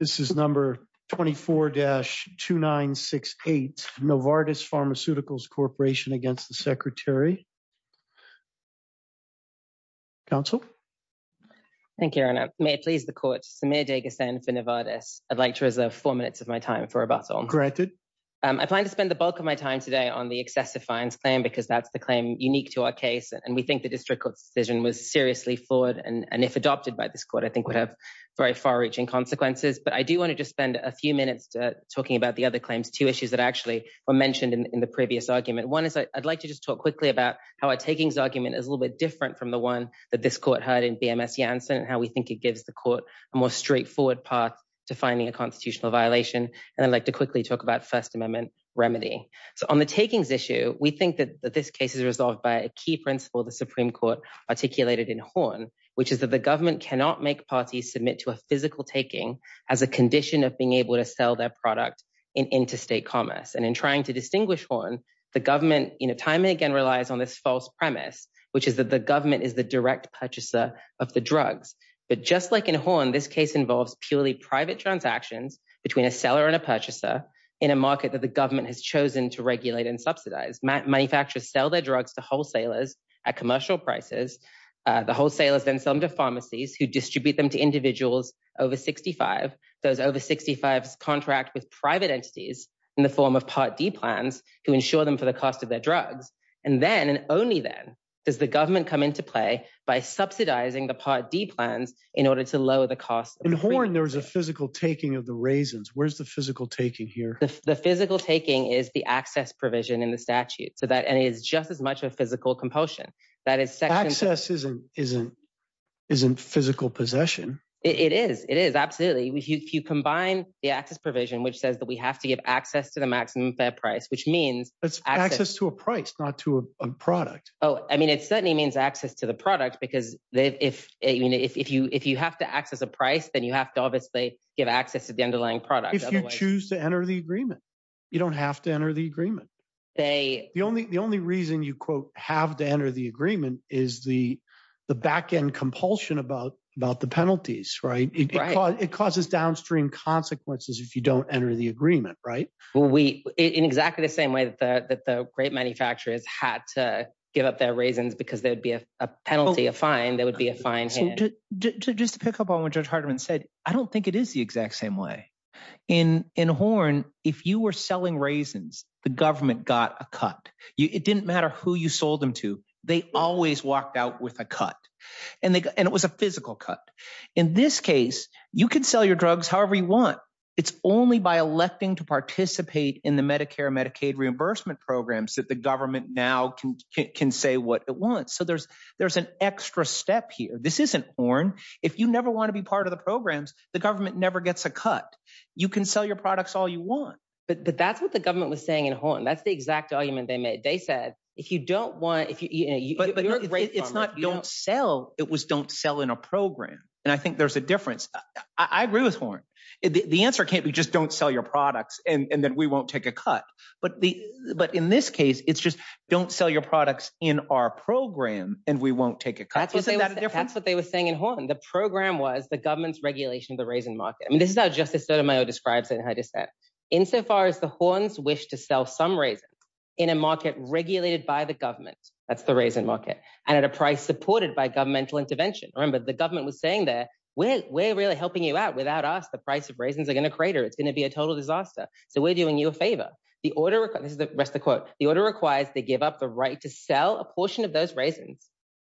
This is number 24-2968 Novartis Pharmaceuticals Corporation against the Secretary. Counsel. Thank you, Your Honor. May it please the Court, Samir Deghasan for Novartis. I'd like to reserve four minutes of my time for rebuttal. Granted. I plan to spend the bulk of my time today on the excessive fines claim because that's the claim unique to our case and we think the district court's decision was seriously flawed and if adopted by this I think would have very far-reaching consequences but I do want to just spend a few minutes talking about the other claims. Two issues that actually were mentioned in the previous argument. One is I'd like to just talk quickly about how our takings argument is a little bit different from the one that this court heard in BMS Janssen and how we think it gives the court a more straightforward path to finding a constitutional violation and I'd like to quickly talk about First Amendment remedy. So on the takings issue we think that this case is resolved by a key principle the Supreme Court articulated in Horn which is that the parties submit to a physical taking as a condition of being able to sell their product in interstate commerce and in trying to distinguish Horn the government you know time and again relies on this false premise which is that the government is the direct purchaser of the drugs but just like in Horn this case involves purely private transactions between a seller and a purchaser in a market that the government has chosen to regulate and subsidize. Manufacturers sell their drugs to wholesalers at commercial prices. The wholesalers then sell them to pharmacies who distribute them to individuals over 65. Those over 65s contract with private entities in the form of Part D plans who insure them for the cost of their drugs and then and only then does the government come into play by subsidizing the Part D plans in order to lower the cost. In Horn there was a physical taking of the raisins. Where's the physical taking here? The physical taking is the access provision in the statute so that and it is just as much a physical compulsion. Access isn't physical possession. It is, it is absolutely. If you combine the access provision which says that we have to give access to the maximum fair price which means. It's access to a price not to a product. Oh I mean it certainly means access to the product because if you have to access a price then you have to obviously give access to the underlying product. If you choose to enter the agreement you don't have to the agreement. The only the only reason you quote have to enter the agreement is the the back end compulsion about about the penalties right. It causes downstream consequences if you don't enter the agreement right. Well we in exactly the same way that the that the grape manufacturers had to give up their raisins because there would be a penalty a fine there would be a fine. Just to pick up on what Judge Hardiman said I don't think it is the exact same way. In in Horn if you were selling raisins the government got a cut. It didn't matter who you sold them to. They always walked out with a cut and they and it was a physical cut. In this case you can sell your drugs however you want. It's only by electing to participate in the Medicare and Medicaid reimbursement programs that the government now can can say what it wants. So there's there's an extra step here. This isn't Horn. If you never want to be part of the programs the government never gets a cut. You can sell your products all you want. But that's what the government was saying in Horn. That's the exact argument they made. They said if you don't want if you're a grape farmer. It's not don't sell. It was don't sell in a program and I think there's a difference. I agree with Horn. The answer can't be just don't sell your products and then we won't take a cut. But the but in this case it's just don't sell your products in our program and we won't take a cut. Isn't that a difference? That's what they were saying in Horn. The program was government's regulation of the raisin market. I mean this is how Justice Sotomayor describes it in her dissent. In so far as the Horns wish to sell some raisins in a market regulated by the government. That's the raisin market. And at a price supported by governmental intervention. Remember the government was saying that we're really helping you out. Without us the price of raisins are going to crater. It's going to be a total disaster. So we're doing you a favor. The order this is the rest of the quote. The order requires they give up the right to sell a portion of those raisins.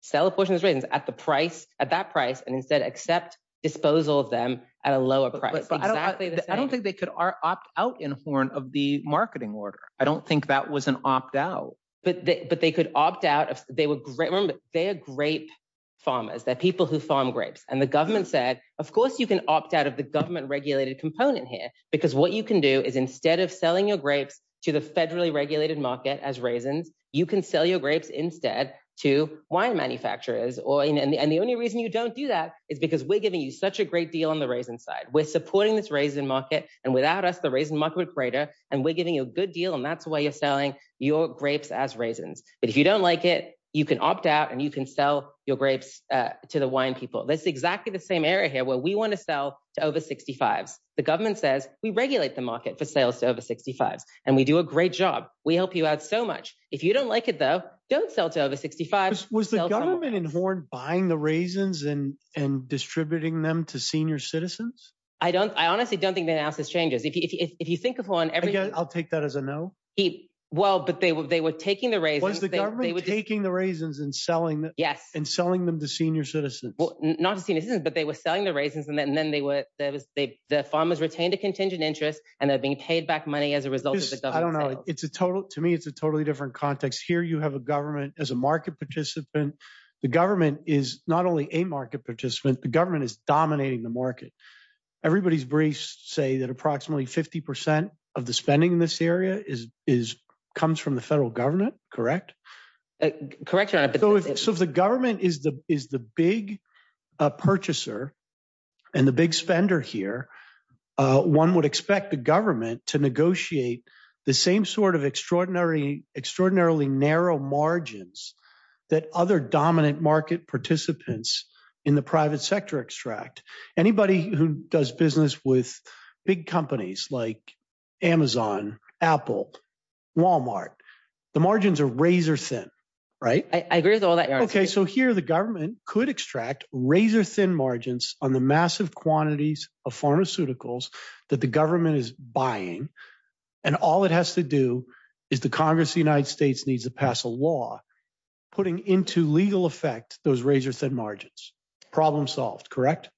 Sell a portion of raisins at the price at that price and instead accept disposal of them at a lower price. I don't think they could opt out in Horn of the marketing order. I don't think that was an opt out. But they could opt out. They were great. They are grape farmers. They're people who farm grapes. And the government said of course you can opt out of the government regulated component here. Because what you can do is instead of selling your grapes to the federally regulated market as raisins. You can sell your grapes instead to wine manufacturers. And the only reason you don't do that is because we're giving you such a great deal on the raisin side. We're supporting this raisin market. And without us the raisin market would crater. And we're giving you a good deal. And that's why you're selling your grapes as raisins. But if you don't like it you can opt out and you can sell your grapes to the wine people. That's exactly the same area here where we want to sell to over 65s. The government says we regulate the market for sales to over 65s. And we do a great job. We help you out so much. If you don't like it though don't sell to over 65s. Was the government in Horn buying the raisins and distributing them to senior citizens. I don't I honestly don't think the analysis changes. If you think of one. Again I'll take that as a no. Well but they were taking the raisins. Was the government taking the raisins and selling them. Yes. And selling them to senior citizens. Well not to senior citizens but they were selling the raisins and then they were there was the farmers retained a contingent interest and they're being paid back money as a to me it's a totally different context. Here you have a government as a market participant. The government is not only a market participant. The government is dominating the market. Everybody's briefs say that approximately 50 percent of the spending in this area is is comes from the federal government. Correct. Correct. So if the government is the is the big purchaser and the big spender here one would expect the government to negotiate the same sort of extraordinary extraordinarily narrow margins that other dominant market participants in the private sector extract. Anybody who does business with big companies like Amazon Apple Walmart the margins are razor thin. Right. I agree with all that. OK. So here the government could extract razor thin margins on the massive quantities of pharmaceuticals the government is buying and all it has to do is the Congress the United States needs to pass a law putting into legal effect those razor thin margins. Problem solved. Correct.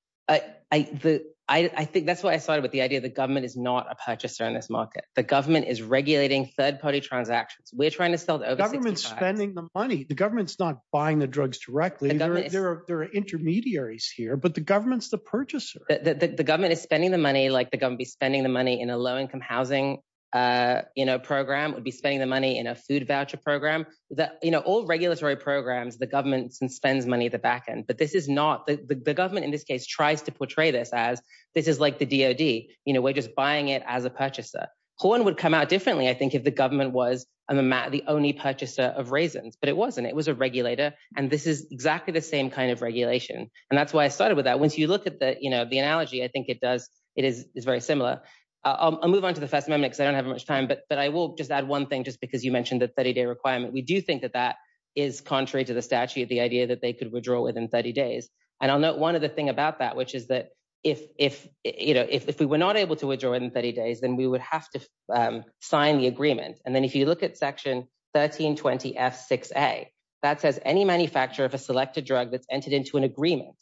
I think that's what I started with the idea the government is not a purchaser in this market. The government is regulating third party transactions. We're trying to sell the government spending the money. The government's not buying the drugs directly. There are intermediaries here but the government's a purchaser that the government is spending the money like the government be spending the money in a low income housing program would be spending the money in a food voucher program that all regulatory programs the government spends money the back end. But this is not the government in this case tries to portray this as this is like the D.O.D. you know we're just buying it as a purchaser. Horn would come out differently I think if the government was the only purchaser of raisins but it wasn't it was a regulator. And this is exactly the same kind of regulation. And that's why I started with that. Once you look at that you know the analogy I think it does. It is very similar. I'll move on to the first moment because I don't have much time but but I will just add one thing just because you mentioned that 30 day requirement. We do think that that is contrary to the statute the idea that they could withdraw within 30 days. And I'll note one other thing about that which is that if if you know if we were not able to withdraw in 30 days then we would have to sign the agreement. And then if you look at Section 13 20 F 6 A that says any manufacturer of a selected drug that's entered into an agreement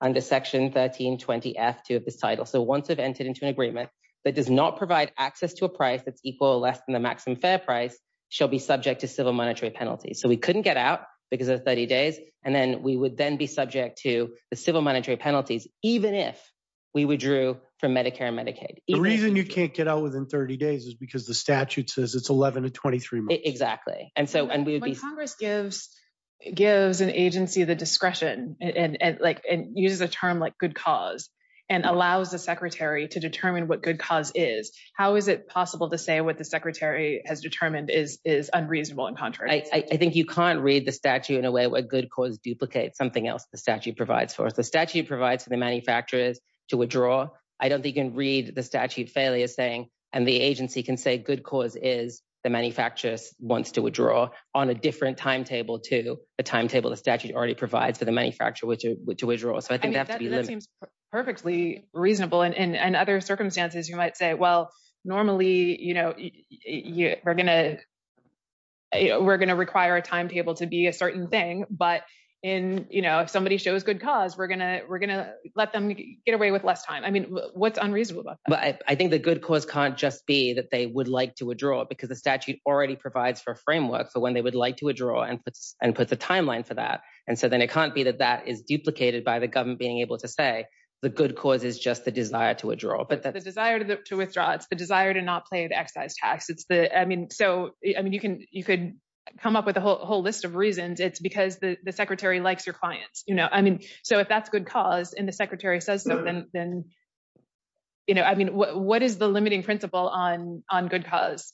under Section 13 20 F 2 of this title. So once I've entered into an agreement that does not provide access to a price that's equal or less than the maximum fair price shall be subject to civil monetary penalties. So we couldn't get out because of 30 days and then we would then be subject to the civil monetary penalties even if we withdrew from Medicare and Medicaid. The reason you can't get out within 30 days is because the statute says it's 11 to 23 months. Exactly and so and we would be Congress gives gives an agency the discretion and and like and uses a term like good cause and allows the secretary to determine what good cause is. How is it possible to say what the secretary has determined is is unreasonable and contrary? I think you can't read the statute in a way where good cause duplicates something else the statute provides for us. The statute provides for the manufacturers to withdraw. I don't think you can read the statute failure saying and the agency can say good cause is the manufacturers wants to withdraw on a different timetable to a timetable the statute already provides for the manufacturer which to withdraw. So I think that seems perfectly reasonable and and other circumstances you might say well normally you know you're gonna we're gonna require a timetable to be a certain thing but in you know if somebody shows good cause we're gonna we're gonna let them get away with less time. I mean what's unreasonable about that? But I think the good cause can't just be that they would like to withdraw because the statute already provides for a framework for when they would like to withdraw and puts and puts a timeline for that and so then it can't be that that is duplicated by the government being able to say the good cause is just the desire to withdraw. But the desire to withdraw it's the desire to not pay the excise tax it's the I mean so I mean you can you could come up with a whole list of reasons it's because the the secretary likes your clients you know I mean so if that's good cause and the secretary says so then then you know I mean what is the limiting principle on on good cause?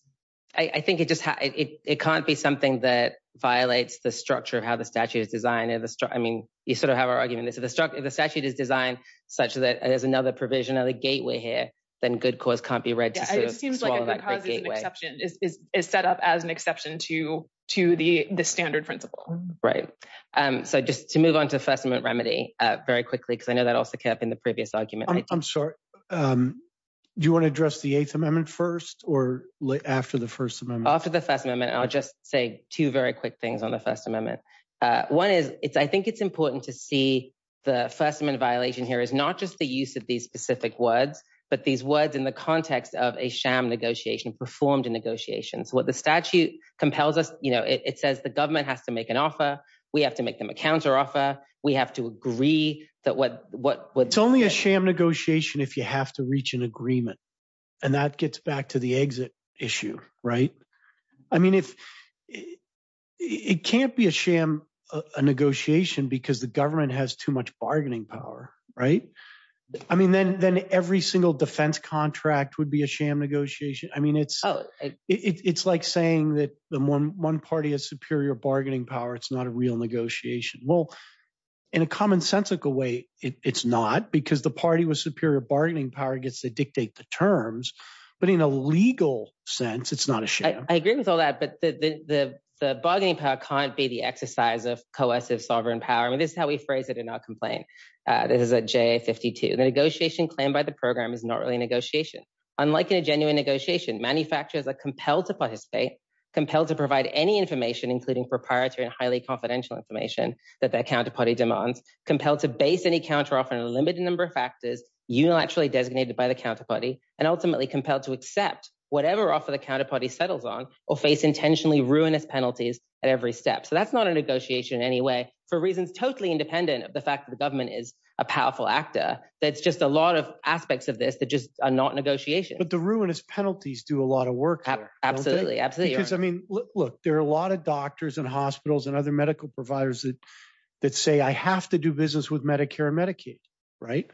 I think it just it can't be something that violates the structure of how the statute is designed. I mean you sort of have our argument this if the statute is designed such that there's another provision of the gateway here then good cause can't be read. It seems like a good cause is an exception is is set up as an exception to to the the standard principle. Right um so just to move on to the First Amendment remedy uh very quickly because I know that also kept in the previous argument. I'm sorry um do you want to address the Eighth Amendment first or after the First Amendment? After the First Amendment I'll just say two very quick things on the First Amendment uh one is it's I think it's important to see the First Amendment violation here is not just the use of these specific words but these words in the context of a sham negotiation performed in negotiations. What the statute compels us you know it says the government has to make an offer we have to make them a counter offer we have to agree that what what it's only a sham negotiation if you have to reach an agreement and that gets back to the exit issue right. I mean if it can't be a sham a negotiation because the government has too much bargaining power right. I mean then then every single defense contract would be a sham negotiation. I mean it's oh it's like saying that the one one party has superior bargaining power it's not a real negotiation. Well in a commonsensical way it's not because the party with superior bargaining power gets to dictate the terms but in a legal sense it's not a sham. I agree with all that but the the the bargaining power can't be the exercise of cohesive sovereign power. I mean this is how we phrase it and not complain uh this is a JA-52. The negotiation claimed by the program is not really a negotiation. Unlike in a genuine negotiation manufacturers are compelled to participate, compelled to provide any information including proprietary and highly confidential information that their counterparty demands, compelled to base any counter off on a limited number of factors unilaterally designated by the counterparty and ultimately compelled to accept whatever offer the counterparty settles on or face intentionally ruinous penalties at every step. So that's not a negotiation in any way for reasons totally independent of the fact that the government is a powerful actor that's just a lot of aspects of this that just are not negotiations. But the ruinous penalties do a lot of work. Absolutely absolutely. Because I mean look there are a lot of doctors and hospitals and other medical providers that that say I have to do business with Medicare and Medicaid right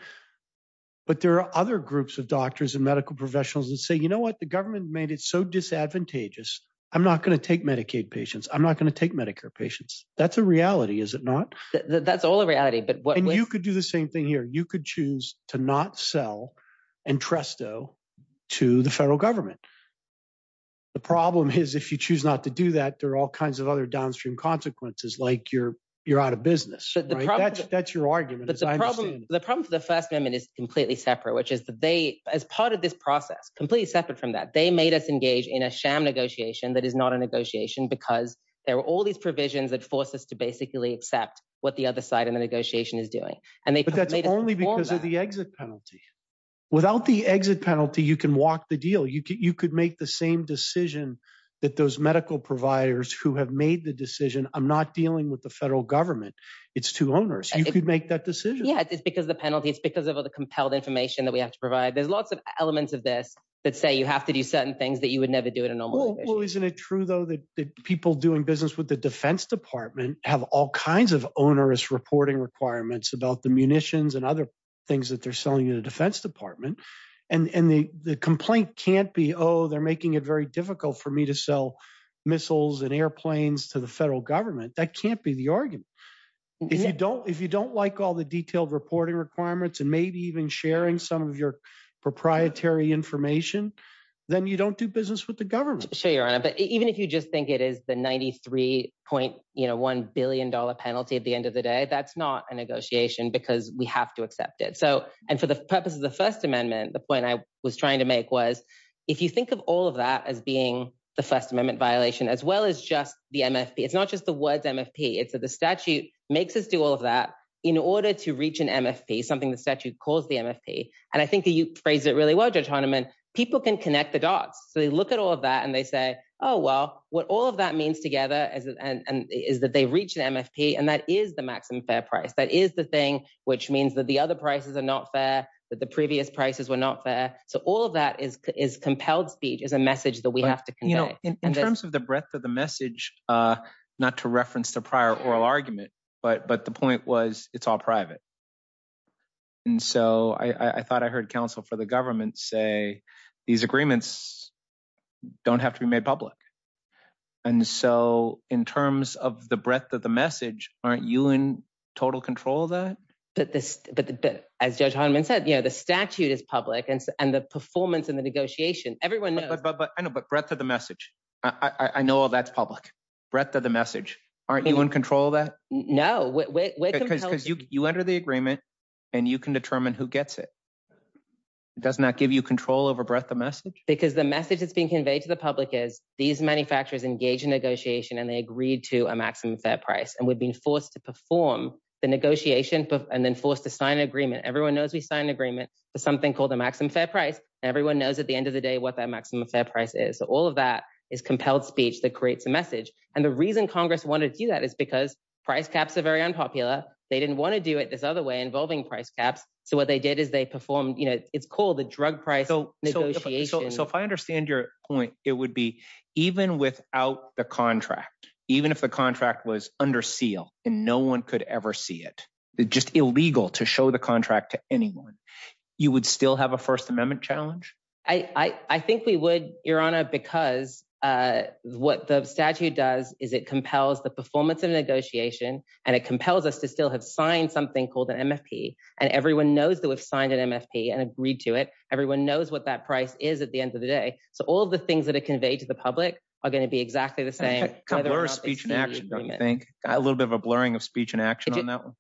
but there are other groups of doctors and medical professionals that say you know what the government made it so disadvantageous I'm not going to take Medicaid patients I'm not going to take Medicare patients. That's a reality is it not? That's all a reality. And you could do the same thing here you could choose to not sell and tresto to the federal government. The problem is if you choose not to do that there are all kinds of other downstream consequences like you're you're out of business. That's your argument. The problem for the first amendment is completely separate which is that they as part of this process completely separate from that they made us engage in a sham negotiation that is not a negotiation because there are all these provisions that force us to basically accept what the other side of the negotiation is doing. But that's only because of the exit penalty. Without the exit penalty you can walk the deal. You could make the same decision that those medical providers who have made the decision I'm not dealing with the federal government it's two owners you could make that decision. Yeah it's because the penalty it's because of the compelled information that we have to provide there's lots of elements of this that say you have to do certain things that you would never do in a normal well isn't it true though that people doing business with the defense department have all kinds of onerous reporting requirements about the munitions and other things that they're selling in the defense department and and the the complaint can't be oh they're making it very difficult for me to sell missiles and airplanes to the federal government that can't be the argument. If you don't if you don't like all the detailed reporting requirements and maybe even sharing some of your proprietary information then you don't do business with the government. Sure your honor but even if you just think it is the 93.1 billion dollar penalty at the end of the day that's not a negotiation because we have to accept it so and for the purpose of the first amendment the point I was trying to make was if you think of all of that as being the first amendment violation as well as just the MFP it's not just the words MFP it's that the statute makes us do all of that in order to reach an MFP something the statute calls the MFP and I think you phrased it really well Judge Hahnemann people can connect the dots so they look at all of that and they say oh well what all of that means together is and and is that they reach the MFP and that is the maximum fair price that is the thing which means that the other prices are not fair that the previous prices were not fair so all of that is is compelled speech is a message that we have to convey. You know in terms of the breadth of the message uh not to reference the prior oral argument but but the point was it's all private and so I I thought I heard counsel for the government say these agreements don't have to be made public and so in terms of the breadth of the message aren't you in total control of that? But this but as Judge Hahnemann said you know the statute is public and and the performance in the negotiation everyone knows. But I know but breadth of the no we're because you you enter the agreement and you can determine who gets it. It does not give you control over breadth of message because the message that's being conveyed to the public is these manufacturers engage in negotiation and they agreed to a maximum fair price and we've been forced to perform the negotiation and then forced to sign an agreement everyone knows we sign an agreement for something called a maximum fair price everyone knows at the end of the day what that maximum fair price is so all of that is compelled speech that creates a message and the reason congress wanted to do that is because price caps are very unpopular they didn't want to do it this other way involving price caps so what they did is they performed you know it's called the drug price negotiation. So if I understand your point it would be even without the contract even if the contract was under seal and no one could ever see it just illegal to show the contract to anyone you would still have a first amendment challenge? I I think we would your honor because what the statute does is it compels the performance of negotiation and it compels us to still have signed something called an MFP and everyone knows that we've signed an MFP and agreed to it everyone knows what that price is at the end of the day so all the things that are conveyed to the public are going to be exactly the same. Blur speech and action don't you think a little bit of a blurring of speech and action on that one?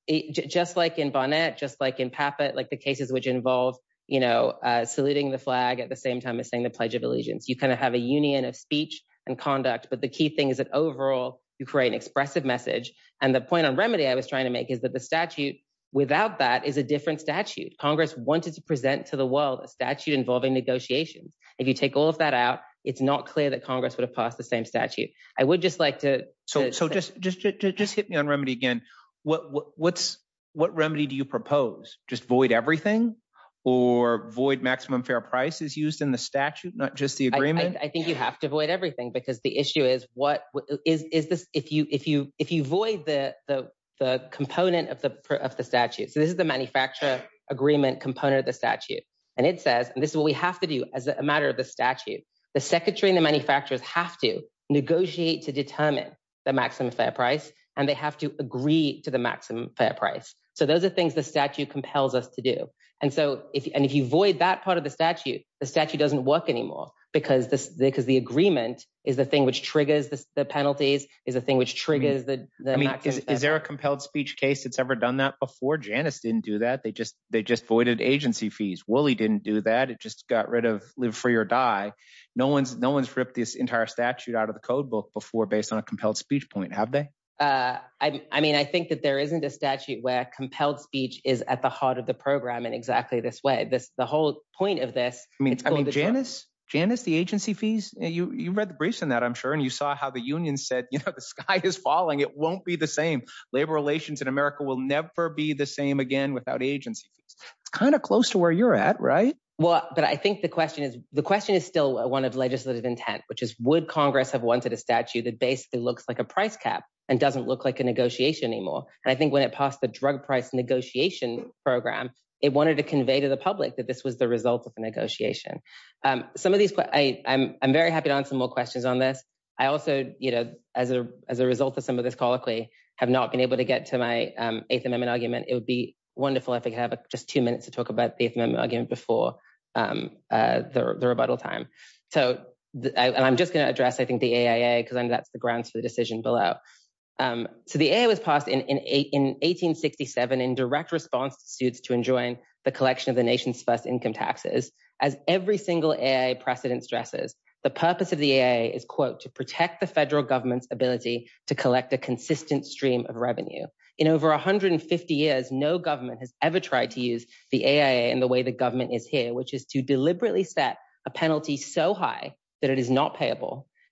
Just like in Barnett just like in Pappet like the cases which involve you know saluting the flag at the same time as saying the pledge of allegiance you kind have a union of speech and conduct but the key thing is that overall you create an expressive message and the point on remedy I was trying to make is that the statute without that is a different statute. Congress wanted to present to the world a statute involving negotiations if you take all of that out it's not clear that Congress would have passed the same statute. I would just like to so so just just just hit me on remedy again what what's what remedy do you propose just void everything or void maximum fair price is used in the statute not just the I think you have to avoid everything because the issue is what is is this if you if you if you void the the the component of the of the statute so this is the manufacturer agreement component of the statute and it says this is what we have to do as a matter of the statute the secretary and the manufacturers have to negotiate to determine the maximum fair price and they have to agree to the maximum fair price so those are things the statute compels us to do and so if and if you void that part of the statute the statute doesn't work anymore because this because the agreement is the thing which triggers the penalties is the thing which triggers the I mean is there a compelled speech case that's ever done that before Janice didn't do that they just they just voided agency fees Wooley didn't do that it just got rid of live free or die no one's no one's ripped this entire statute out of the code book before based on a compelled speech point have they uh I mean I think that there isn't a statute where compelled speech is at the heart of the program in exactly this way this the whole point of this I mean Janice Janice the agency fees you you read the briefs on that I'm sure and you saw how the union said you know the sky is falling it won't be the same labor relations in America will never be the same again without agency it's kind of close to where you're at right well but I think the question is the question is still one of legislative intent which is would congress have wanted a statute that basically looks like a price cap and doesn't look like a negotiation anymore and I think when passed the drug price negotiation program it wanted to convey to the public that this was the result of a negotiation um some of these I'm very happy to answer more questions on this I also you know as a as a result of some of this colloquy have not been able to get to my um eighth amendment argument it would be wonderful if I could have just two minutes to talk about the eighth amendment argument before um uh the rebuttal time so I'm just going to address I think the AIA because that's the grounds for the decision below um so the AIA was passed in in 1867 in direct response to suits to enjoin the collection of the nation's first income taxes as every single AIA precedent stresses the purpose of the AIA is quote to protect the federal government's ability to collect a consistent stream of revenue in over 150 years no government has ever tried to use the AIA in the way the government is here which is to deliberately set a penalty so high that it is not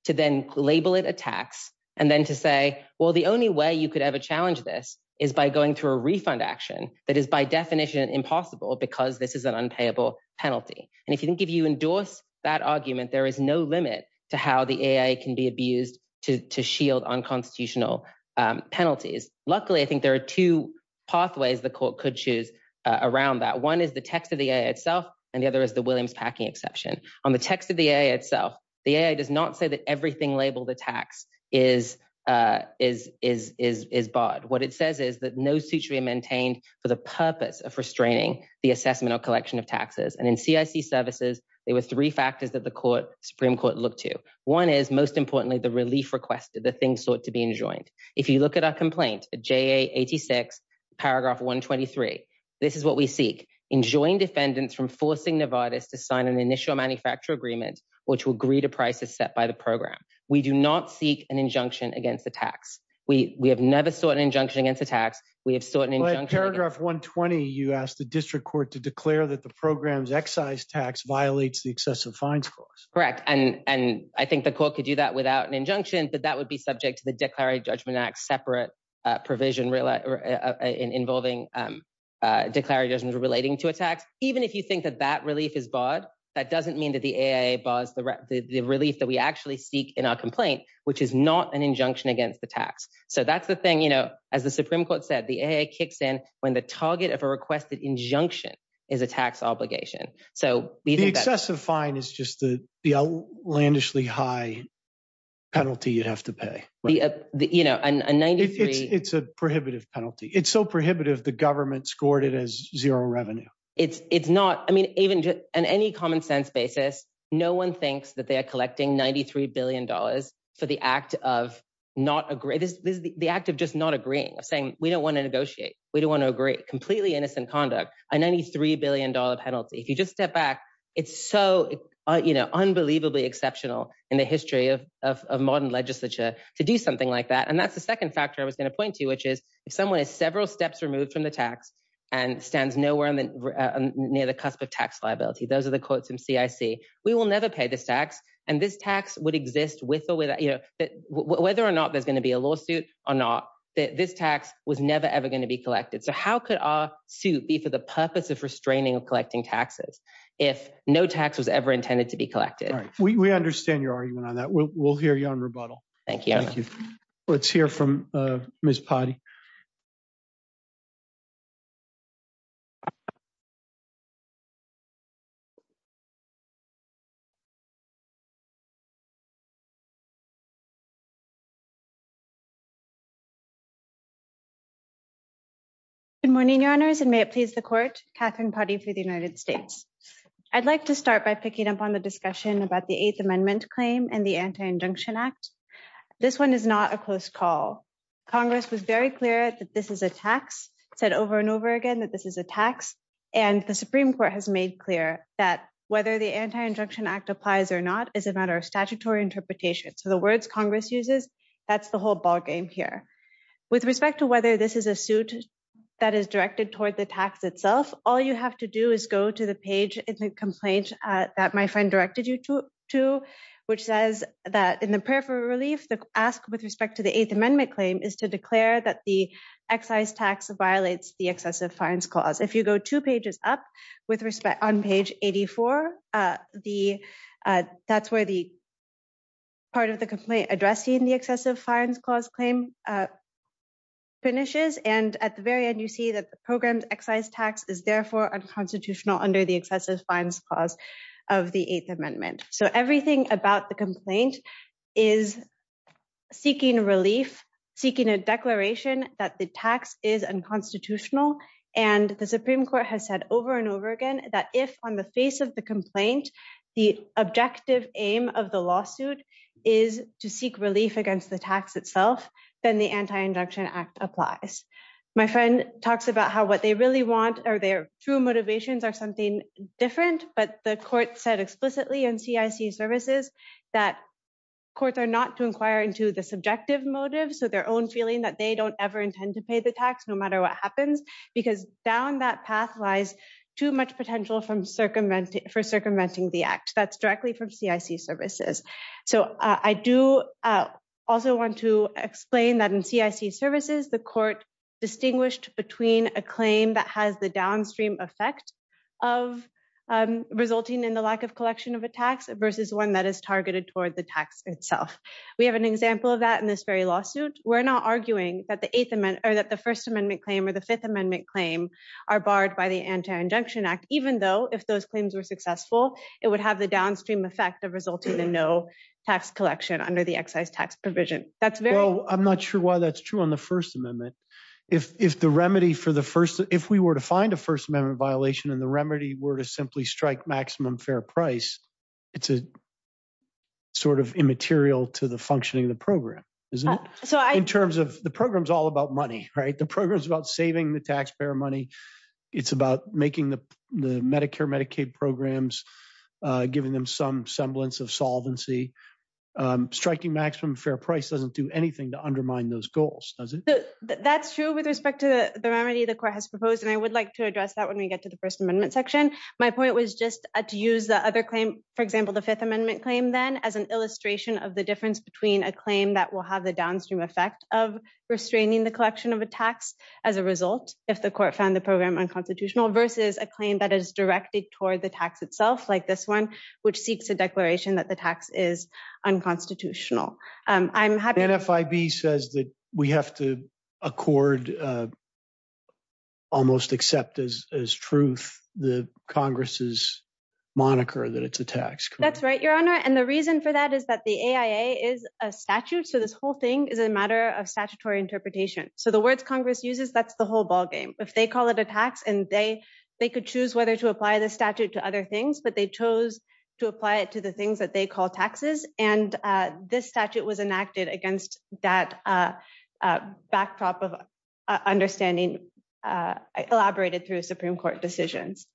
to then label it a tax and then to say well the only way you could ever challenge this is by going through a refund action that is by definition impossible because this is an unpayable penalty and if you think if you endorse that argument there is no limit to how the AIA can be abused to to shield unconstitutional um penalties luckily I think there are two pathways the court could choose around that one is the text of the AIA itself and the other is the Williams Packing Exception on the text of the AIA itself the AIA does not say that everything labeled the tax is uh is is is barred what it says is that no suit should be maintained for the purpose of restraining the assessment or collection of taxes and in CIC services there were three factors that the court supreme court looked to one is most importantly the relief requested the things sought to be enjoined if you look at our complaint at JA 86 paragraph 123 this is what we seek enjoined defendants from forcing Novartis to sign an initial manufacturer agreement which will agree to prices set by the program we do not seek an injunction against the tax we we have never sought an injunction against the tax we have sought an injunction paragraph 120 you ask the district court to declare that the program's excise tax violates the excessive fines clause correct and and I think the court could do that without an injunction but that would be subject to the declarative judgment act separate uh provision really uh involving um uh relating to a tax even if you think that that relief is barred that doesn't mean that the AIA bars the relief that we actually seek in our complaint which is not an injunction against the tax so that's the thing you know as the supreme court said the AIA kicks in when the target of a requested injunction is a tax obligation so the excessive fine is just the the outlandishly high penalty you have to pay the uh the you know a 93 it's a prohibitive penalty it's so prohibitive the government scored it as zero revenue it's it's not I mean even just on any common sense basis no one thinks that they are collecting 93 billion dollars for the act of not agree this is the act of just not agreeing of saying we don't want to negotiate we don't want to agree completely innocent conduct a 93 billion dollar penalty if you just step back it's so you know unbelievably exceptional in the history of of modern legislature to do something like that and that's the second factor I was going to point to which is if someone is several steps removed from the tax and stands nowhere near the cusp of tax liability those are the quotes from CIC we will never pay this tax and this tax would exist with or without you know that whether or not there's going to be a lawsuit or not that this tax was never ever going to be collected so how could our suit be for the purpose of restraining of collecting taxes if no tax was ever intended to be collected we understand your argument on that we'll hear you thank you thank you let's hear from uh miss potty good morning your honors and may it please the court katherine potty for the united states i'd like to start by picking up on the discussion about the eighth amendment claim and the anti injunction act this one is not a close call congress was very clear that this is a tax said over and over again that this is a tax and the supreme court has made clear that whether the anti-injunction act applies or not is a matter of statutory interpretation so the words congress uses that's the whole ball game here with respect to whether this is a suit that is directed toward the tax itself all you have to do is go to the page in the complaint uh that my friend directed to which says that in the prayer for relief the ask with respect to the eighth amendment claim is to declare that the excise tax violates the excessive fines clause if you go two pages up with respect on page 84 uh the uh that's where the part of the complaint addressing the excessive fines clause claim uh finishes and at the very end you see that the program's excise tax is therefore unconstitutional under the excessive fines clause of the eighth amendment so everything about the complaint is seeking relief seeking a declaration that the tax is unconstitutional and the supreme court has said over and over again that if on the face of the complaint the objective aim of the lawsuit is to seek relief against the tax itself then the anti-injunction act applies my friend talks about how what they really want or their true motivations are something different but the court said explicitly in cic services that courts are not to inquire into the subjective motive so their own feeling that they don't ever intend to pay the tax no matter what happens because down that path lies too much potential from circumventing for circumventing that's directly from cic services so i do also want to explain that in cic services the court distinguished between a claim that has the downstream effect of resulting in the lack of collection of attacks versus one that is targeted toward the tax itself we have an example of that in this very lawsuit we're not arguing that the eighth amendment or that the first amendment claim or the fifth amendment claim are barred by the anti-injunction act even though if those claims were successful it would have the downstream effect of resulting in no tax collection under the excise tax provision that's very well i'm not sure why that's true on the first amendment if if the remedy for the first if we were to find a first amendment violation and the remedy were to simply strike maximum fair price it's a sort of immaterial to the functioning of the program isn't it so in terms of the program's all about money right the program's about saving the taxpayer money it's about making the the medicare medicaid programs uh giving them some semblance of solvency um striking maximum fair price doesn't do anything to undermine those goals does it that's true with respect to the remedy the court has proposed and i would like to address that when we get to the first amendment section my point was just to use the other claim for example the fifth amendment claim then as an illustration of the difference between a claim that will have the downstream effect of restraining the collection of a tax as a result if the court found the program unconstitutional versus a claim that is directed toward the tax itself like this one which seeks a declaration that the tax is unconstitutional um i'm happy nfib says that we have to accord uh almost accept as as truth the congress's moniker that it's a tax that's right your honor and the reason for that is that the aia is a statute so this whole thing is a matter of statutory interpretation so the words congress uses that's the whole ball game if they call it a tax and they they could choose whether to apply the statute to other things but they chose to apply it to the things that they call taxes and this statute was enacted against that uh uh backdrop of understanding uh elaborated through decisions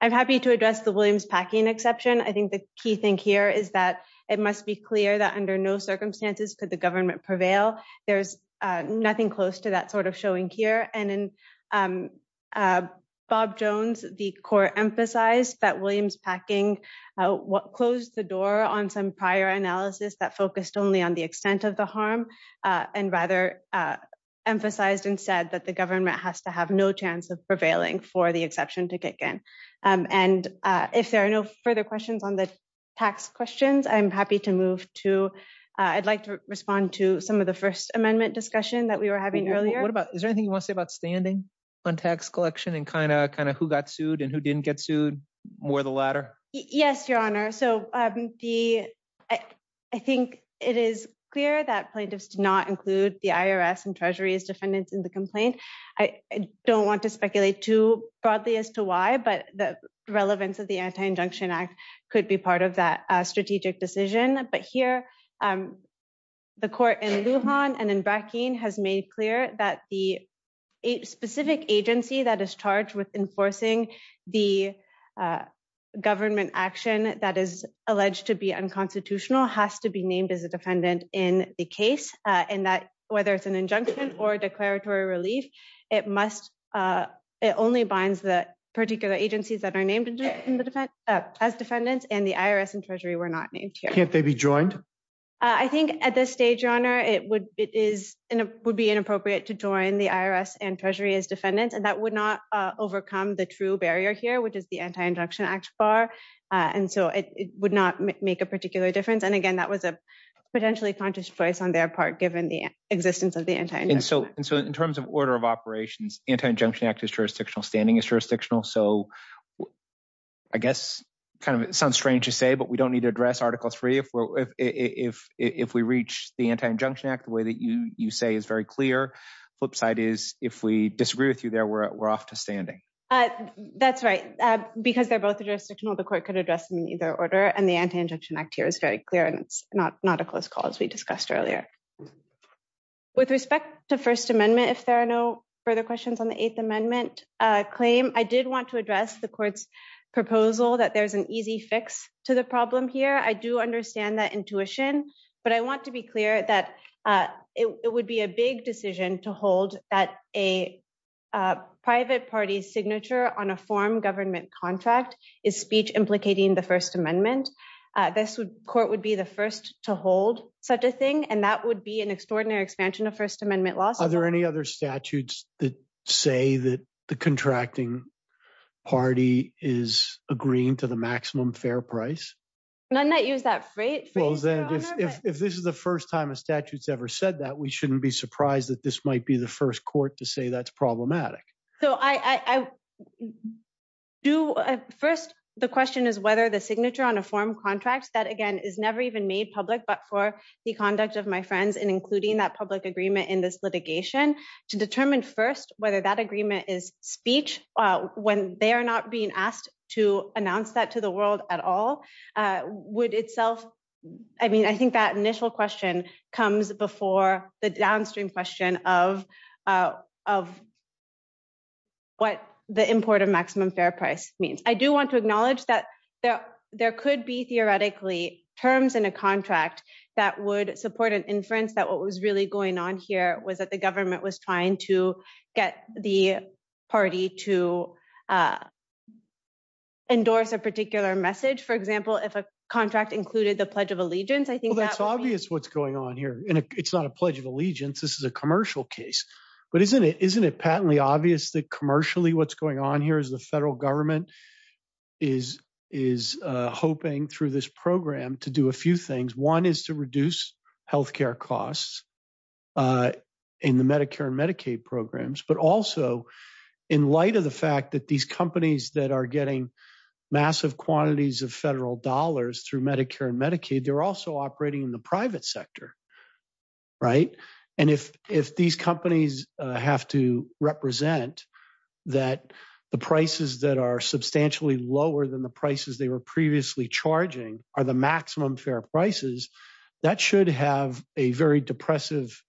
i'm happy to address the williams packing exception i think the key thing here is that it must be clear that under no circumstances could the government prevail there's uh nothing close to that sort of showing here and in um bob jones the court emphasized that williams packing what closed the door on some prior analysis that focused only on the extent of the harm and rather uh emphasized and said that the government has to have no chance of prevailing for the exception to kick in um and uh if there are no further questions on the tax questions i'm happy to move to i'd like to respond to some of the first amendment discussion that we were having earlier what about is there anything you want to say about standing on tax collection and kind of kind of who got sued and who didn't get sued more the latter yes your honor so um the i think it is clear that plaintiffs do not include the irs and treasury as defendants in the complaint i don't want to speculate too broadly as to why but the relevance of the anti-injunction act could be part of that strategic decision but here um the court in lujan and in bracken has made clear that the specific agency that is charged with enforcing the uh government action that is alleged to be unconstitutional has to be named as a defendant in the case uh and that whether it's an injunction or declaratory relief it must uh it only binds the particular agencies that are named in the defense as defendants and the irs and treasury were not named here can't they be joined i think at this stage your honor it would it is would be inappropriate to join the irs and treasury as defendants and that would not overcome the true barrier here which is the anti-injunction act bar and so it would not make a particular difference and again that was a potentially conscious choice on their part given the existence of the entire and so and so in terms of order of operations anti-injunction act is jurisdictional standing is jurisdictional so i guess kind of sounds strange to say but we don't address article three if we're if if if we reach the anti-injunction act the way that you you say is very clear flip side is if we disagree with you there we're off to standing uh that's right because they're both jurisdictional the court could address them in either order and the anti-injunction act here is very clear and it's not not a close call as we discussed earlier with respect to first amendment if there are no further questions on the eighth amendment uh claim i did want to address the court's proposal that there's an easy fix to the problem here i do understand that intuition but i want to be clear that uh it would be a big decision to hold that a uh private party's signature on a form government contract is speech implicating the first amendment uh this would court would be the first to hold such a thing and that would be an extraordinary expansion of first amendment laws are there any other statutes that say that the contracting party is agreeing to the maximum fair price none that use that freight flows if if this is the first time a statute's ever said that we shouldn't be surprised that this might be the first court to say that's problematic so i i do first the question is whether the signature on a form contract that again is never even made public but for the conduct of my friends and including that public agreement in this litigation to determine first whether that agreement is speech uh when they are not being asked to announce that to the world at all uh would itself i mean i think that initial question comes before the downstream question of uh of what the import of maximum fair price means i do want to acknowledge that there there could be theoretically terms in a contract that would support an inference that what was really going on here was that the government was trying to get the party to uh endorse a particular message for example if a contract included the pledge of allegiance i think that's obvious what's going on here and it's not a pledge of allegiance this is a commercial case but isn't it isn't it patently obvious that commercially what's going on here is the federal government is is uh hoping through this program to do a few things one is to reduce health care costs uh in the medicare and medicaid programs but also in light of the fact that these companies that are getting massive quantities of federal dollars through medicare and medicaid they're also operating in the private sector right and if if these companies uh have to represent that the prices that are substantially lower than the prices they were previously charging are the maximum fair prices that should have a very depressive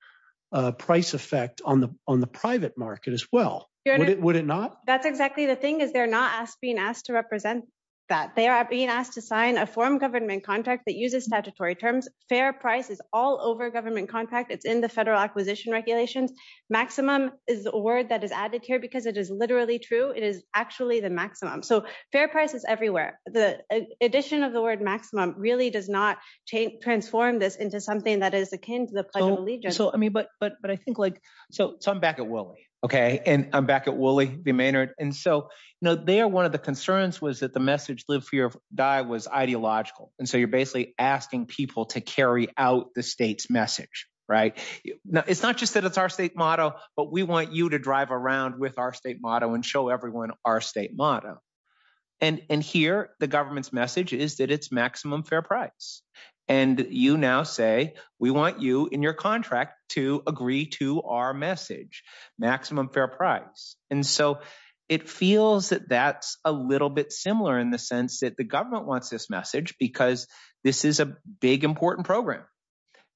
uh price effect on the on the private market as well would it not that's exactly the thing is they're not asked being asked to represent that they are being asked to sign a form government contract that uses statutory terms fair price is all over government contract it's in the federal acquisition regulations maximum is a word that is added here because it is literally true it is actually the maximum so fair price is everywhere the addition of the word maximum really does not transform this into something that is akin to the pledge of allegiance so i mean but but but i think like so so i'm back at woolly okay and i'm back at woolly v maynard and so you know they are one of the concerns was that the message live fear die was ideological and so you're basically asking people to carry out the state's message right now it's not just that it's our state motto but we want you to drive around with our state motto and show everyone our state motto and and here the government's message is that it's maximum fair price and you now say we want you in your contract to agree to our message maximum fair price and so it feels that that's a little bit similar in the sense that the government wants this message because this is a big important program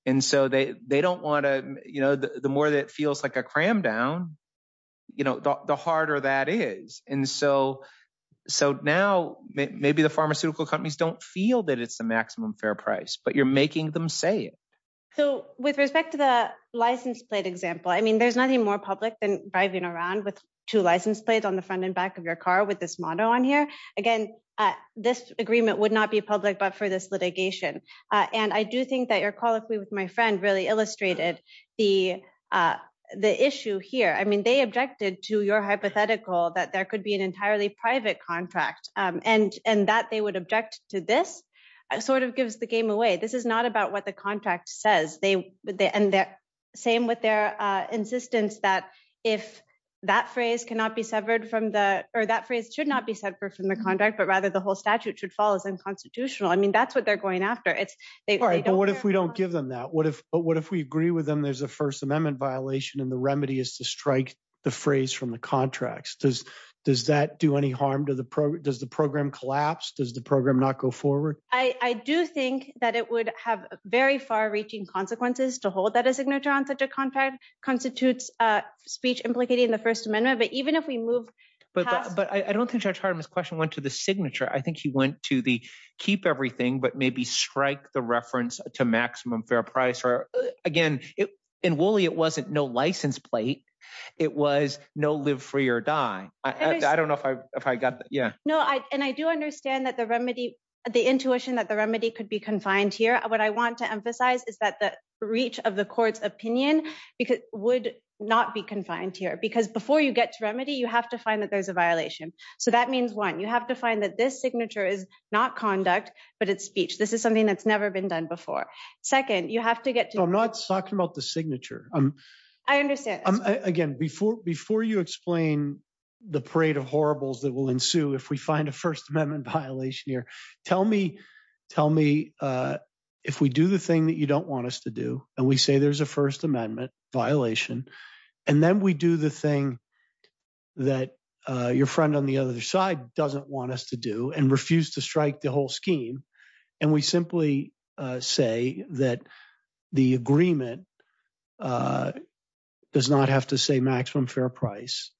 and so they they don't want to you know the more that feels like a cram down you know the harder that is and so so now maybe the pharmaceutical companies don't feel that it's the maximum fair price but you're making them say it so with respect to the license plate example i mean there's nothing more public than driving around with two license plates on the front and back of your car with this motto on here again this agreement would not be public but for this litigation uh and i do think that your colloquy with my friend really illustrated the uh the issue here i mean they objected to your hypothetical that there could be an entirely private contract um and and that they would object to this sort of gives the game away this is not about what the contract says they they and their same with their uh insistence that if that phrase cannot be severed from the or that phrase should not be severed from the contract but rather the whole statute should fall as unconstitutional i mean that's what they're going after it's all right but what if we don't give them that what if but what if we agree with them there's a first amendment violation and the remedy is to strike the phrase from the contracts does does that do any harm to the pro does the program collapse does the program not go forward i i do think that it would have very far-reaching consequences to hold that a signature on such a contract constitutes uh speech implicating the first amendment but even if we move but but i don't think judge hartman's question went to the signature i think he went to the keep everything but maybe strike the reference to maximum fair price or again in woolly it wasn't no license plate it was no live free or die i don't know if i if i got that yeah no i and i do understand that the remedy the intuition that the remedy could be confined here what i want to emphasize is that the reach of the court's opinion because would not be confined here because before you get to remedy you have to find that there's a violation so that means one you have to find that this signature is not conduct but it's speech this is something that's never been done before second you have to get to i'm not talking about the signature um i understand again before before you explain the parade of horribles that will ensue if we find a first amendment violation here tell me tell me uh if we do the thing that you don't us to do and we say there's a first amendment violation and then we do the thing that uh your friend on the other side doesn't want us to do and refuse to strike the whole scheme and we simply say that the agreement uh does not have to say maximum fair price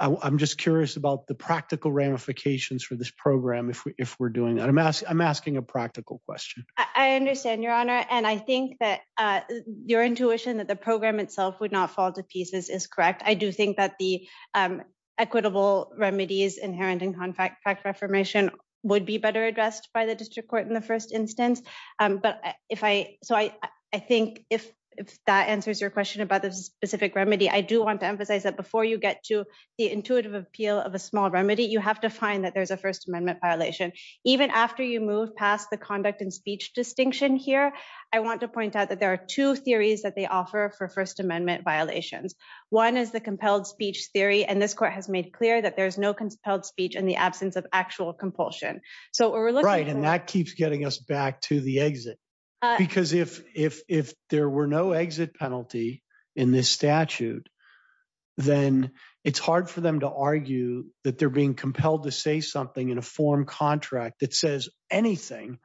i'm just curious about the practical ramifications for this program if we're doing that i'm asking i'm asking a practical question i understand your honor and i think that uh your intuition that the program itself would not fall to pieces is correct i do think that the um equitable remedies inherent in contract reformation would be better addressed by the district court in the first instance um but if i so i i think if if that answers your question about the specific remedy i do want to emphasize that before you get to the intuitive appeal of a small remedy you have to find that there's a first violation even after you move past the conduct and speech distinction here i want to point out that there are two theories that they offer for first amendment violations one is the compelled speech theory and this court has made clear that there's no compelled speech in the absence of actual compulsion so we're right and that keeps getting us back to the exit because if if if there were no exit penalty in this statute then it's hard for them to argue that they're being compelled to say something in a form contract that says anything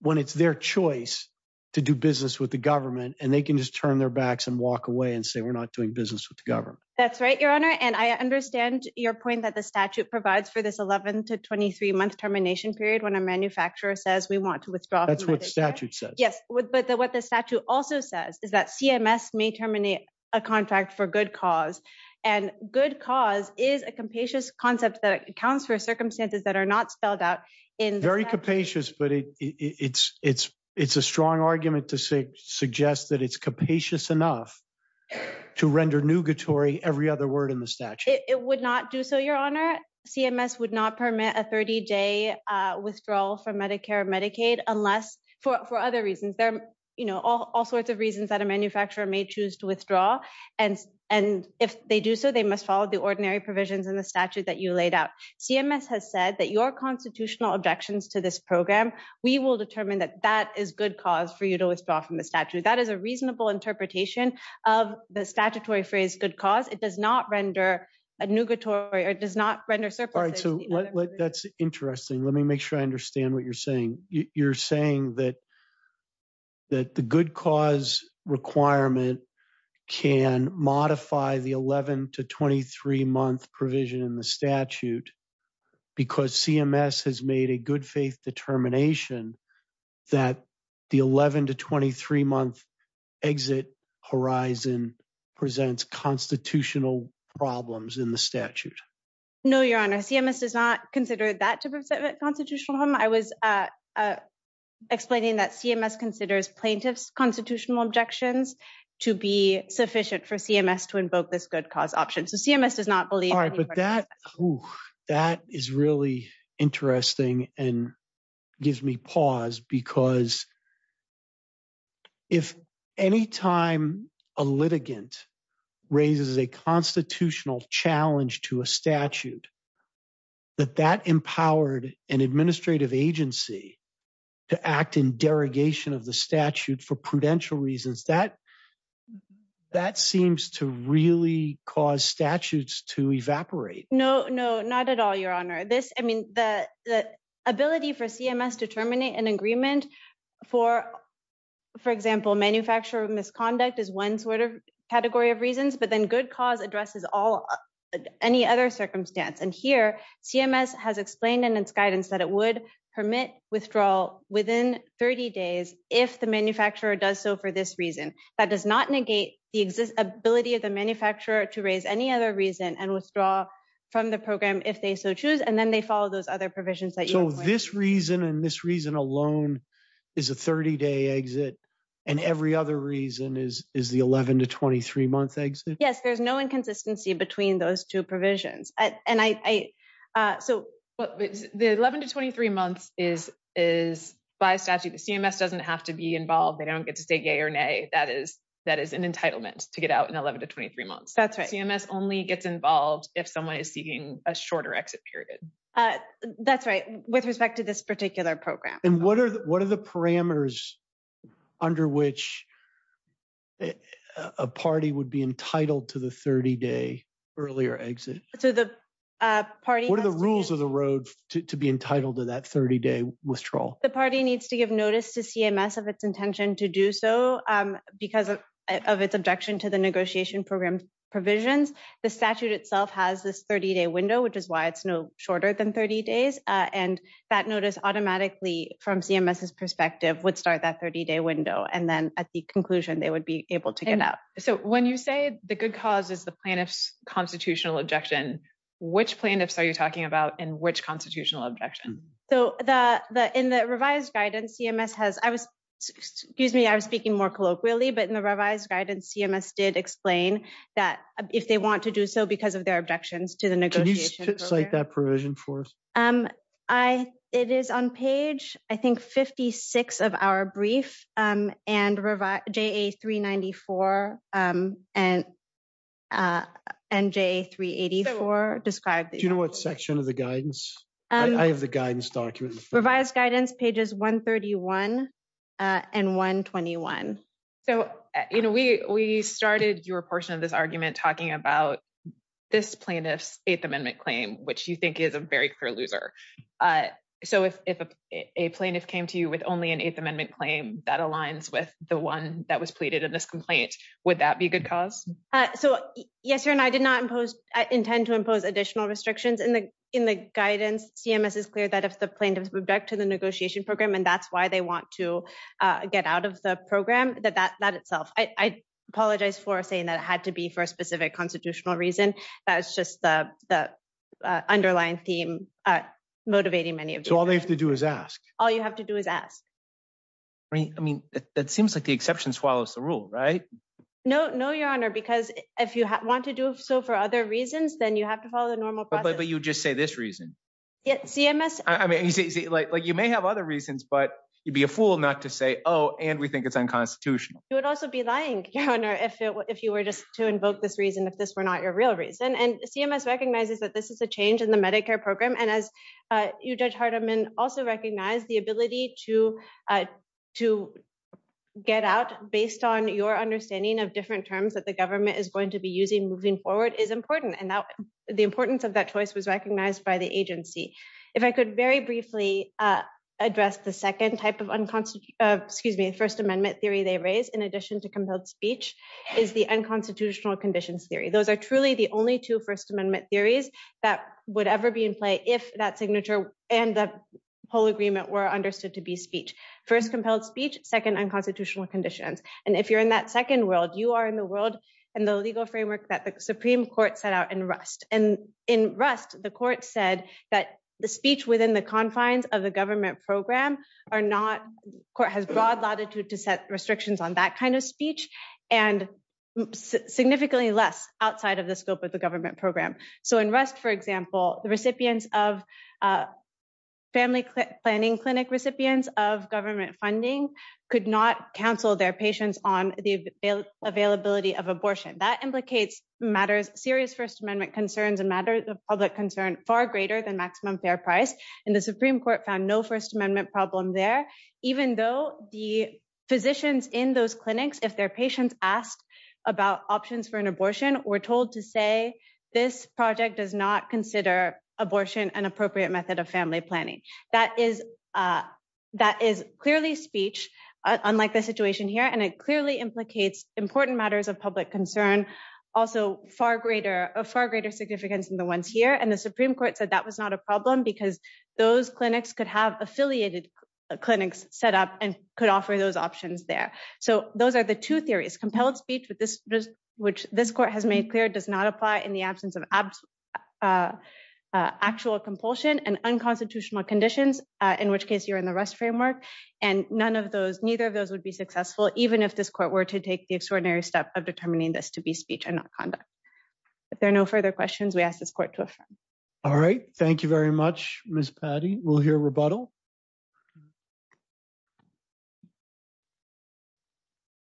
when it's their choice to do business with the government and they can just turn their backs and walk away and say we're not doing business with the government that's right your honor and i understand your point that the statute provides for this 11 to 23 month termination period when a manufacturer says we want to withdraw that's what the statute says yes but what the statute also says is that cms may terminate a contract for good cause and good cause is a capacious concept that accounts for circumstances that are not spelled out in very capacious but it it's it's it's a strong argument to say suggest that it's capacious enough to render nugatory every other word in the statute it would not do so your honor cms would not permit a 30-day uh withdrawal from medicare medicaid unless for for other reasons there you know all all sorts of reasons that a manufacturer may choose to withdraw and and if they do so they must follow the ordinary provisions in the statute that you laid out cms has said that your constitutional objections to this program we will determine that that is good cause for you to withdraw from the statute that is a reasonable interpretation of the statutory phrase good cause it does not render a nugatory or does not render surplus right so that's interesting let me make sure i understand what you're saying you're saying that that the good cause requirement can modify the 11 to 23 month provision in the statute because cms has made a good faith determination that the 11 to 23 month exit horizon presents constitutional problems in the statute no your honor cms does not consider that to be a constitutional problem i was uh uh explaining that cms considers plaintiffs constitutional objections to be sufficient for cms to invoke this good cause option so cms does not believe all right but that that is really interesting and gives me pause because if any time a litigant raises a constitutional challenge to a statute that that empowered an administrative agency to act in derogation of the statute for prudential reasons that that seems to really cause statutes to evaporate no no not at all your honor this i mean the the ability for cms to terminate an agreement for for example manufacturer misconduct is one sort of category of reasons but then good cause addresses all any other circumstance and here cms has explained in its guidance that it would permit withdrawal within 30 days if the manufacturer does so for this reason that does not negate the ability of the manufacturer to raise any other reason and withdraw from the program if they so choose and then they follow those other provisions so this reason and this reason alone is a 30-day exit and every other reason is is the 11 to 23 month exit yes there's no inconsistency between those two provisions and i uh so but the 11 to 23 months is is by statute the cms doesn't have to be involved they don't get to stay gay or nay that is that is an entitlement to get out in 11 to 23 months that's right cms only gets involved if someone is seeking a shorter exit period uh that's right with respect to this particular program and what are what are the parameters under which a party would be entitled to the 30-day earlier exit so the uh party what are the rules of the road to be entitled to that 30-day withdrawal the party needs to give notice to cms of its intention to do so um because of of its objection to the negotiation program provisions the statute itself has this 30-day window which is why it's no shorter than 30 days uh and that notice automatically from cms's perspective would start that 30-day window and then at the conclusion they would be able to get out so when you say the good cause is the plaintiff's constitutional objection which plaintiffs are you talking about in which constitutional objection so the the in the revised guidance cms has i was excuse me i was speaking more colloquially but in the revised guidance cms did explain that if they want to do so because of their objections to the negotiation cite that provision for um i it is on page i think 56 of our brief um and revise ja394 um and uh and ja384 described you know what section of the guidance i have the guidance document revised guidance pages 131 and 121 so you know we we started your portion of this argument talking about this plaintiff's eighth amendment claim which you think is a very clear loser uh so if if a plaintiff came to you with only an eighth amendment claim that aligns with the one that was pleaded in this complaint would that be a good cause uh so yes sir and i did not impose i intend to impose additional restrictions in the in the guidance cms is clear that if plaintiffs object to the negotiation program and that's why they want to uh get out of the program that that that itself i i apologize for saying that it had to be for a specific constitutional reason that's just the the underlying theme uh motivating many of you all they have to do is ask all you have to do is ask i mean i mean that seems like the exception swallows the rule right no no your honor because if you want to do so for other reasons then you have to follow the but you just say this reason yet cms i mean you see like you may have other reasons but you'd be a fool not to say oh and we think it's unconstitutional you would also be lying your honor if it were if you were just to invoke this reason if this were not your real reason and cms recognizes that this is a change in the medicare program and as uh you judge hardeman also recognize the ability to uh to get out based on your understanding of different terms that the choice was recognized by the agency if i could very briefly uh address the second type of excuse me first amendment theory they raise in addition to compelled speech is the unconstitutional conditions theory those are truly the only two first amendment theories that would ever be in play if that signature and the whole agreement were understood to be speech first compelled speech second unconstitutional conditions and if you're in that second world you are in the world and the legal framework that the supreme court set out in rust and in rust the court said that the speech within the confines of the government program are not court has broad latitude to set restrictions on that kind of speech and significantly less outside of the scope of the government program so in rust for example the recipients of uh family planning clinic recipients of government funding could not counsel their patients on the availability of abortion that implicates matters serious first amendment concerns and matters of public concern far greater than maximum fair price and the supreme court found no first amendment problem there even though the physicians in those clinics if their patients asked about options for an abortion were told to say this project does not consider abortion an appropriate method of family planning that is uh that is clearly speech unlike the situation here and it clearly implicates important matters of public concern also far greater of far greater significance than the ones here and the supreme court said that was not a problem because those clinics could have affiliated clinics set up and could offer those options there so those are the two theories compelled speech with this which this court has made clear does not apply in the absence of uh actual compulsion and unconstitutional conditions in which case you're in the rest framework and none of those neither of those would be successful even if this court were to take the extraordinary step of determining this to be speech and not conduct if there are no further questions we ask this court to affirm all right thank you very much miss patty we'll hear rebuttal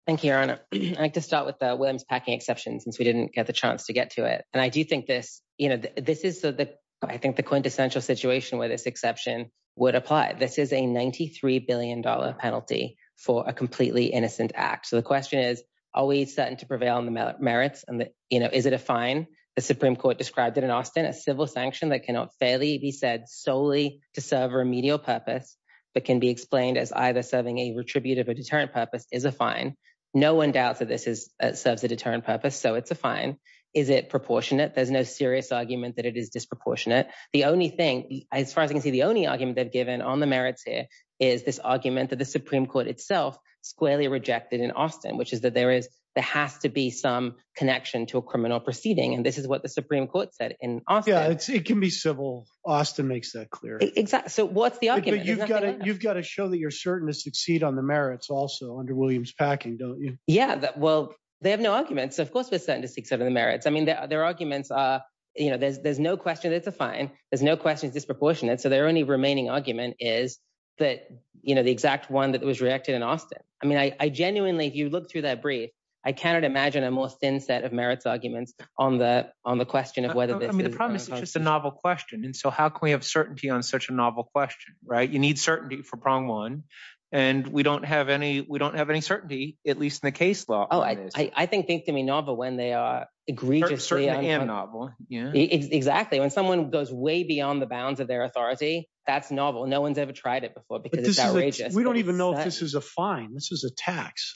thank you your honor i'd like to start with the williams packing exception since we didn't get a chance to get to it and i do think this you know this is the i think the quintessential situation where this exception would apply this is a 93 billion dollar penalty for a completely innocent act so the question is are we certain to prevail on the merits and the you know is it a fine the supreme court described it in austin a civil sanction that cannot fairly be said solely to serve remedial purpose but can be explained as either serving a retributive or deterrent purpose is a fine no one doubts that this is serves a deterrent purpose so it's a fine is it proportionate there's no serious argument that it is disproportionate the only thing as far as i can see the only argument they've given on the merits here is this argument that the supreme court itself squarely rejected in austin which is that there is there has to be some connection to a criminal proceeding and this is what the supreme court said in austin yeah it's it can be civil austin makes that clear exactly so what's the argument you've got it you've got to show that you're certain to succeed on the merits also under williams packing don't you yeah well they have no arguments of course we're certain to succeed in the merits i mean their arguments are you know there's there's no question that's a fine there's no questions disproportionate so their only remaining argument is that you know the exact one that was reacted in austin i mean i genuinely if you look through that brief i cannot imagine a more thin set of merits arguments on the on the question of whether i mean the promise is just a novel question and so how can we have on such a novel question right you need certainty for prong one and we don't have any we don't have any certainty at least in the case law oh i i think think to me novel when they are egregiously and novel yeah exactly when someone goes way beyond the bounds of their authority that's novel no one's ever tried it before because it's outrageous we don't even know if this is a fine this is a tax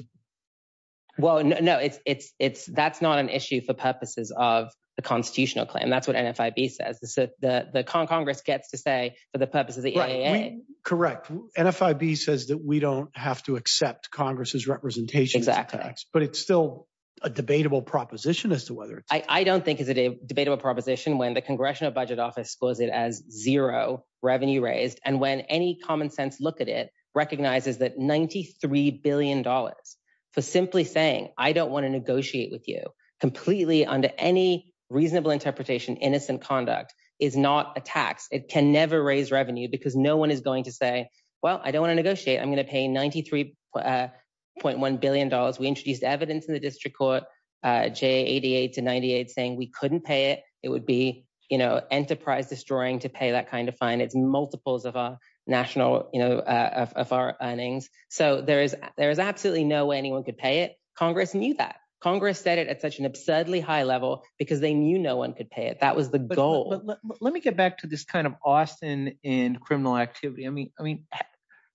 well no no it's it's it's that's not an issue for purposes of the constitutional claim that's what nfib says the the con congress gets to say for the purpose of the aaa correct nfib says that we don't have to accept congress's representation exactly but it's still a debatable proposition as to whether i i don't think is it a debatable proposition when the congressional budget office calls it as zero revenue raised and when any common sense look at it recognizes that 93 billion dollars for simply saying i don't want to negotiate with you completely under any reasonable interpretation innocent conduct is not a tax it can never raise revenue because no one is going to say well i don't want to negotiate i'm going to pay 93.1 billion dollars we introduced evidence in the district court uh j 88 to 98 saying we couldn't pay it it would be you know enterprise destroying to pay that kind of fine it's multiples of our national you know uh of our earnings so there is there is absolutely no way anyone could pay it congress knew that congress said it at such an absurdly high level because they knew no one could pay it that was the goal let me get back to this kind of austin in criminal activity i mean i mean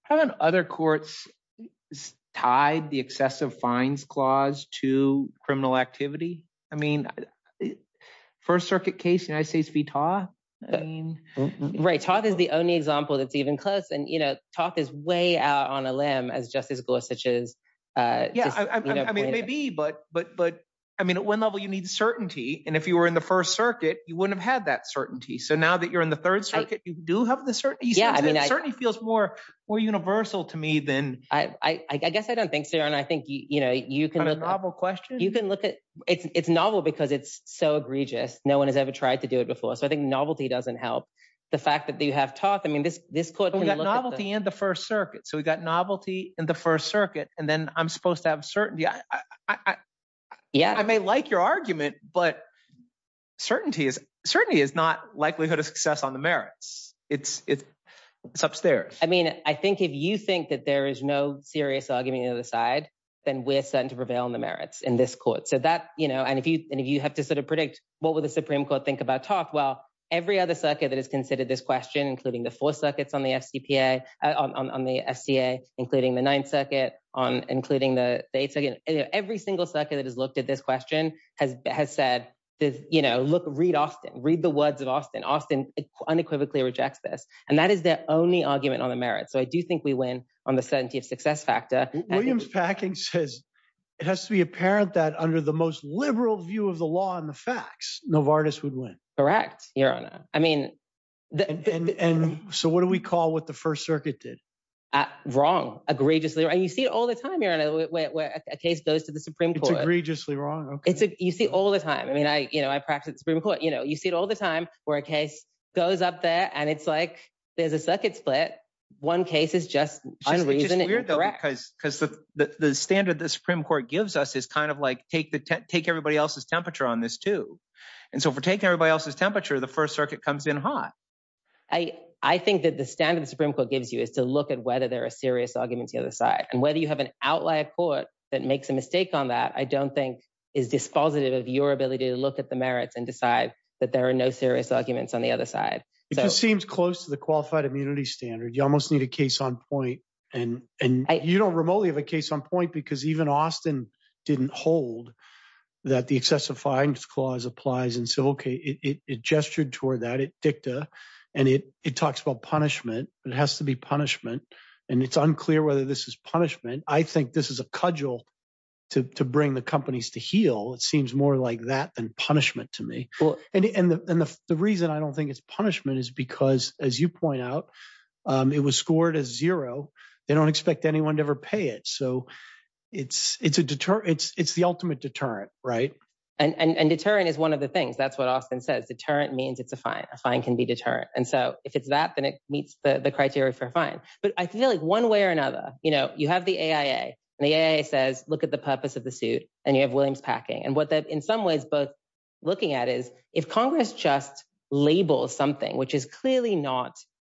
how about other courts tied the excessive fines clause to criminal activity i mean first circuit case united states v todd i mean right todd is the only example that's even close and you know talk is way out on a limb as justice gorsuch's uh yeah i mean maybe but but but i mean at one level you need certainty and if you were in the first circuit you wouldn't have had that certainty so now that you're in the third circuit you do have the certainty yeah i mean it certainly feels more more universal to me than i i i guess i don't think sarah and i think you you know you can have a novel question you can look at it's it's novel because it's so egregious no one has ever tried to do it before so i think novelty doesn't help the fact that you have taught i novelty in the first circuit so we got novelty in the first circuit and then i'm supposed to have certainty i i yeah i may like your argument but certainty is certainty is not likelihood of success on the merits it's it's upstairs i mean i think if you think that there is no serious argument on the side then we're certain to prevail on the merits in this court so that you know and if you and if you have to sort of predict what would the supreme court think about talk well every other circuit that has considered this question including the four circuits on the fcpa uh on the fca including the ninth circuit on including the dates again every single circuit that has looked at this question has has said this you know look read austin read the words of austin austin unequivocally rejects this and that is their only argument on the merit so i do think we win on the certainty of success factor williams packing says it has to be apparent that under the most liberal view of the law and the facts novartis would win correct your honor i mean and so what do we call what the first circuit did wrong egregiously and you see it all the time you're in a way where a case goes to the supreme court egregiously wrong okay it's a you see all the time i mean i you know i practice supreme court you know you see it all the time where a case goes up there and it's like there's a circuit split one case is just unreasonable because the the standard the supreme court gives us is kind of like take the take everybody else's temperature on this too and so for taking everybody else's temperature the first circuit comes in hot i i think that the standard the supreme court gives you is to look at whether there are serious arguments the other side and whether you have an outlier court that makes a mistake on that i don't think is dispositive of your ability to look at the merits and decide that there are no serious arguments on the other side it just seems close to the qualified immunity standard you almost need a case on point and and you don't remotely have a case on point because even austin didn't hold that the excessive fines clause applies and so okay it it gestured toward that it dicta and it it talks about punishment it has to be punishment and it's unclear whether this is punishment i think this is a cudgel to to bring the companies to heal it seems more like that than punishment to me well and and the and the reason i don't think it's punishment is because as you point out um it was scored as zero they don't expect anyone to ever pay it so it's it's a deterrent it's it's the ultimate deterrent right and and deterrent is one of the things that's what austin says deterrent means it's a fine a fine can be deterrent and so if it's that then it meets the the criteria for fine but i feel like one way or another you know you have the aia and the aia says look at the purpose of the suit and you have williams packing and what in some ways both looking at is if congress just labels something which is clearly not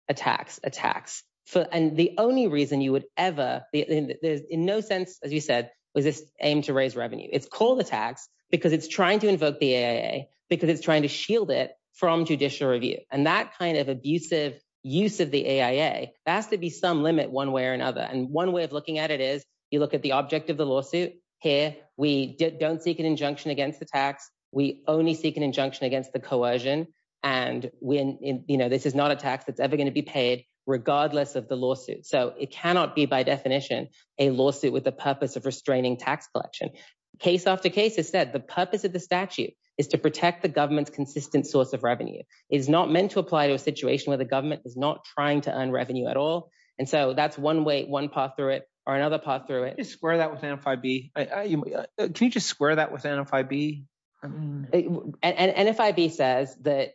a tax a tax for and the only reason you would ever there's in no sense as you said was this aimed to raise revenue it's called attacks because it's trying to invoke the aia because it's trying to shield it from judicial review and that kind of abusive use of the aia has to be some limit one way or another and one way of looking at it is you look at the object of the lawsuit here we don't seek an injunction against the tax we only seek an injunction against the coercion and when you know this is not a tax that's ever going to be paid regardless of the lawsuit so it cannot be by definition a lawsuit with the purpose of restraining tax collection case after case has said the purpose of the statute is to protect the government's consistent source of revenue is not meant to apply to a situation where the government is not trying to earn revenue at all and so that's one way one path through it or another path through it just square that with nfib can you just square that with nfib and nfib says that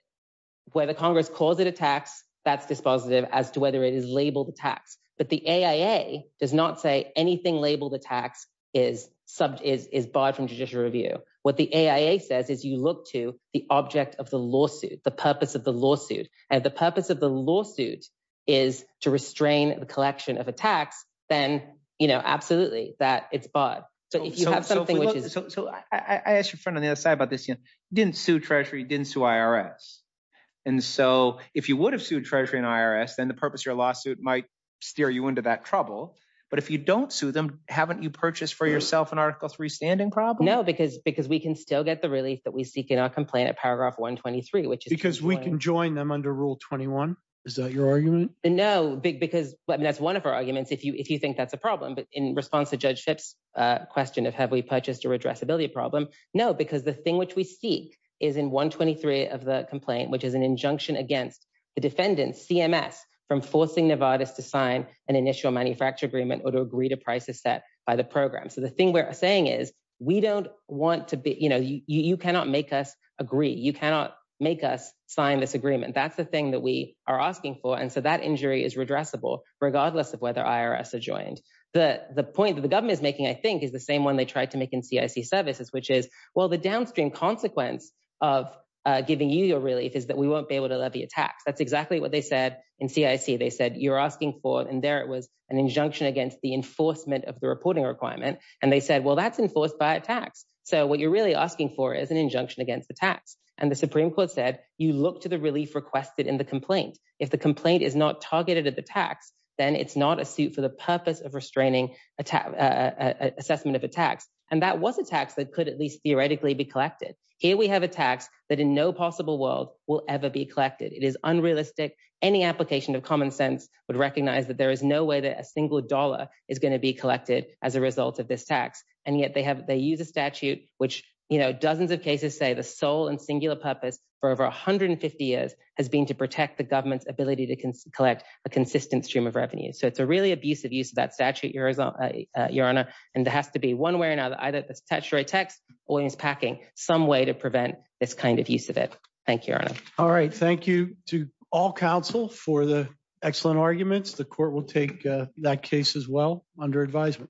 where the congress calls it a tax that's dispositive as to whether it is labeled tax but the aia does not say anything labeled attacks is sub is is barred from judicial review what the aia says is you look to the object of the lawsuit the purpose of the then you know absolutely that it's bought so if you have something which is so i i asked your friend on the other side about this you didn't sue treasury didn't sue irs and so if you would have sued treasury and irs then the purpose of your lawsuit might steer you into that trouble but if you don't sue them haven't you purchased for yourself an article three standing problem no because because we can still get the relief that we seek in our complaint at paragraph 123 which is because we can join them under rule 21 is that your argument no big because i mean that's one of our arguments if you if you think that's a problem but in response to judge phipps uh question of have we purchased a redressability problem no because the thing which we seek is in 123 of the complaint which is an injunction against the defendant cms from forcing nevada's to sign an initial manufacture agreement or to agree to prices set by the program so the thing we're saying is we don't want to be you know you you cannot make us agree you cannot make us sign this agreement that's the thing that we are asking for and so that injury is redressable regardless of whether irs are joined the the point that the government is making i think is the same one they tried to make in cic services which is well the downstream consequence of uh giving you your relief is that we won't be able to let the attacks that's exactly what they said in cic they said you're asking for and there it was an injunction against the enforcement of the reporting requirement and they said well that's enforced by a tax so what you're really asking for is an injunction against the tax and the supreme court said you look to the relief requested in the complaint if the complaint is not targeted at the tax then it's not a suit for the purpose of restraining attack assessment of attacks and that was a tax that could at least theoretically be collected here we have a tax that in no possible world will ever be collected it is unrealistic any application of common sense would recognize that there is no way that a single dollar is going to be collected as a result of this tax and yet they have they use a statute which you know dozens of cases say the sole and singular purpose for over 150 years has been to protect the government's ability to collect a consistent stream of revenue so it's a really abusive use of that statute your honor and there has to be one way or another either it's text or it's packing some way to prevent this kind of use of it thank you all right thank you to all council for the excellent arguments the court will take that case as well under advisement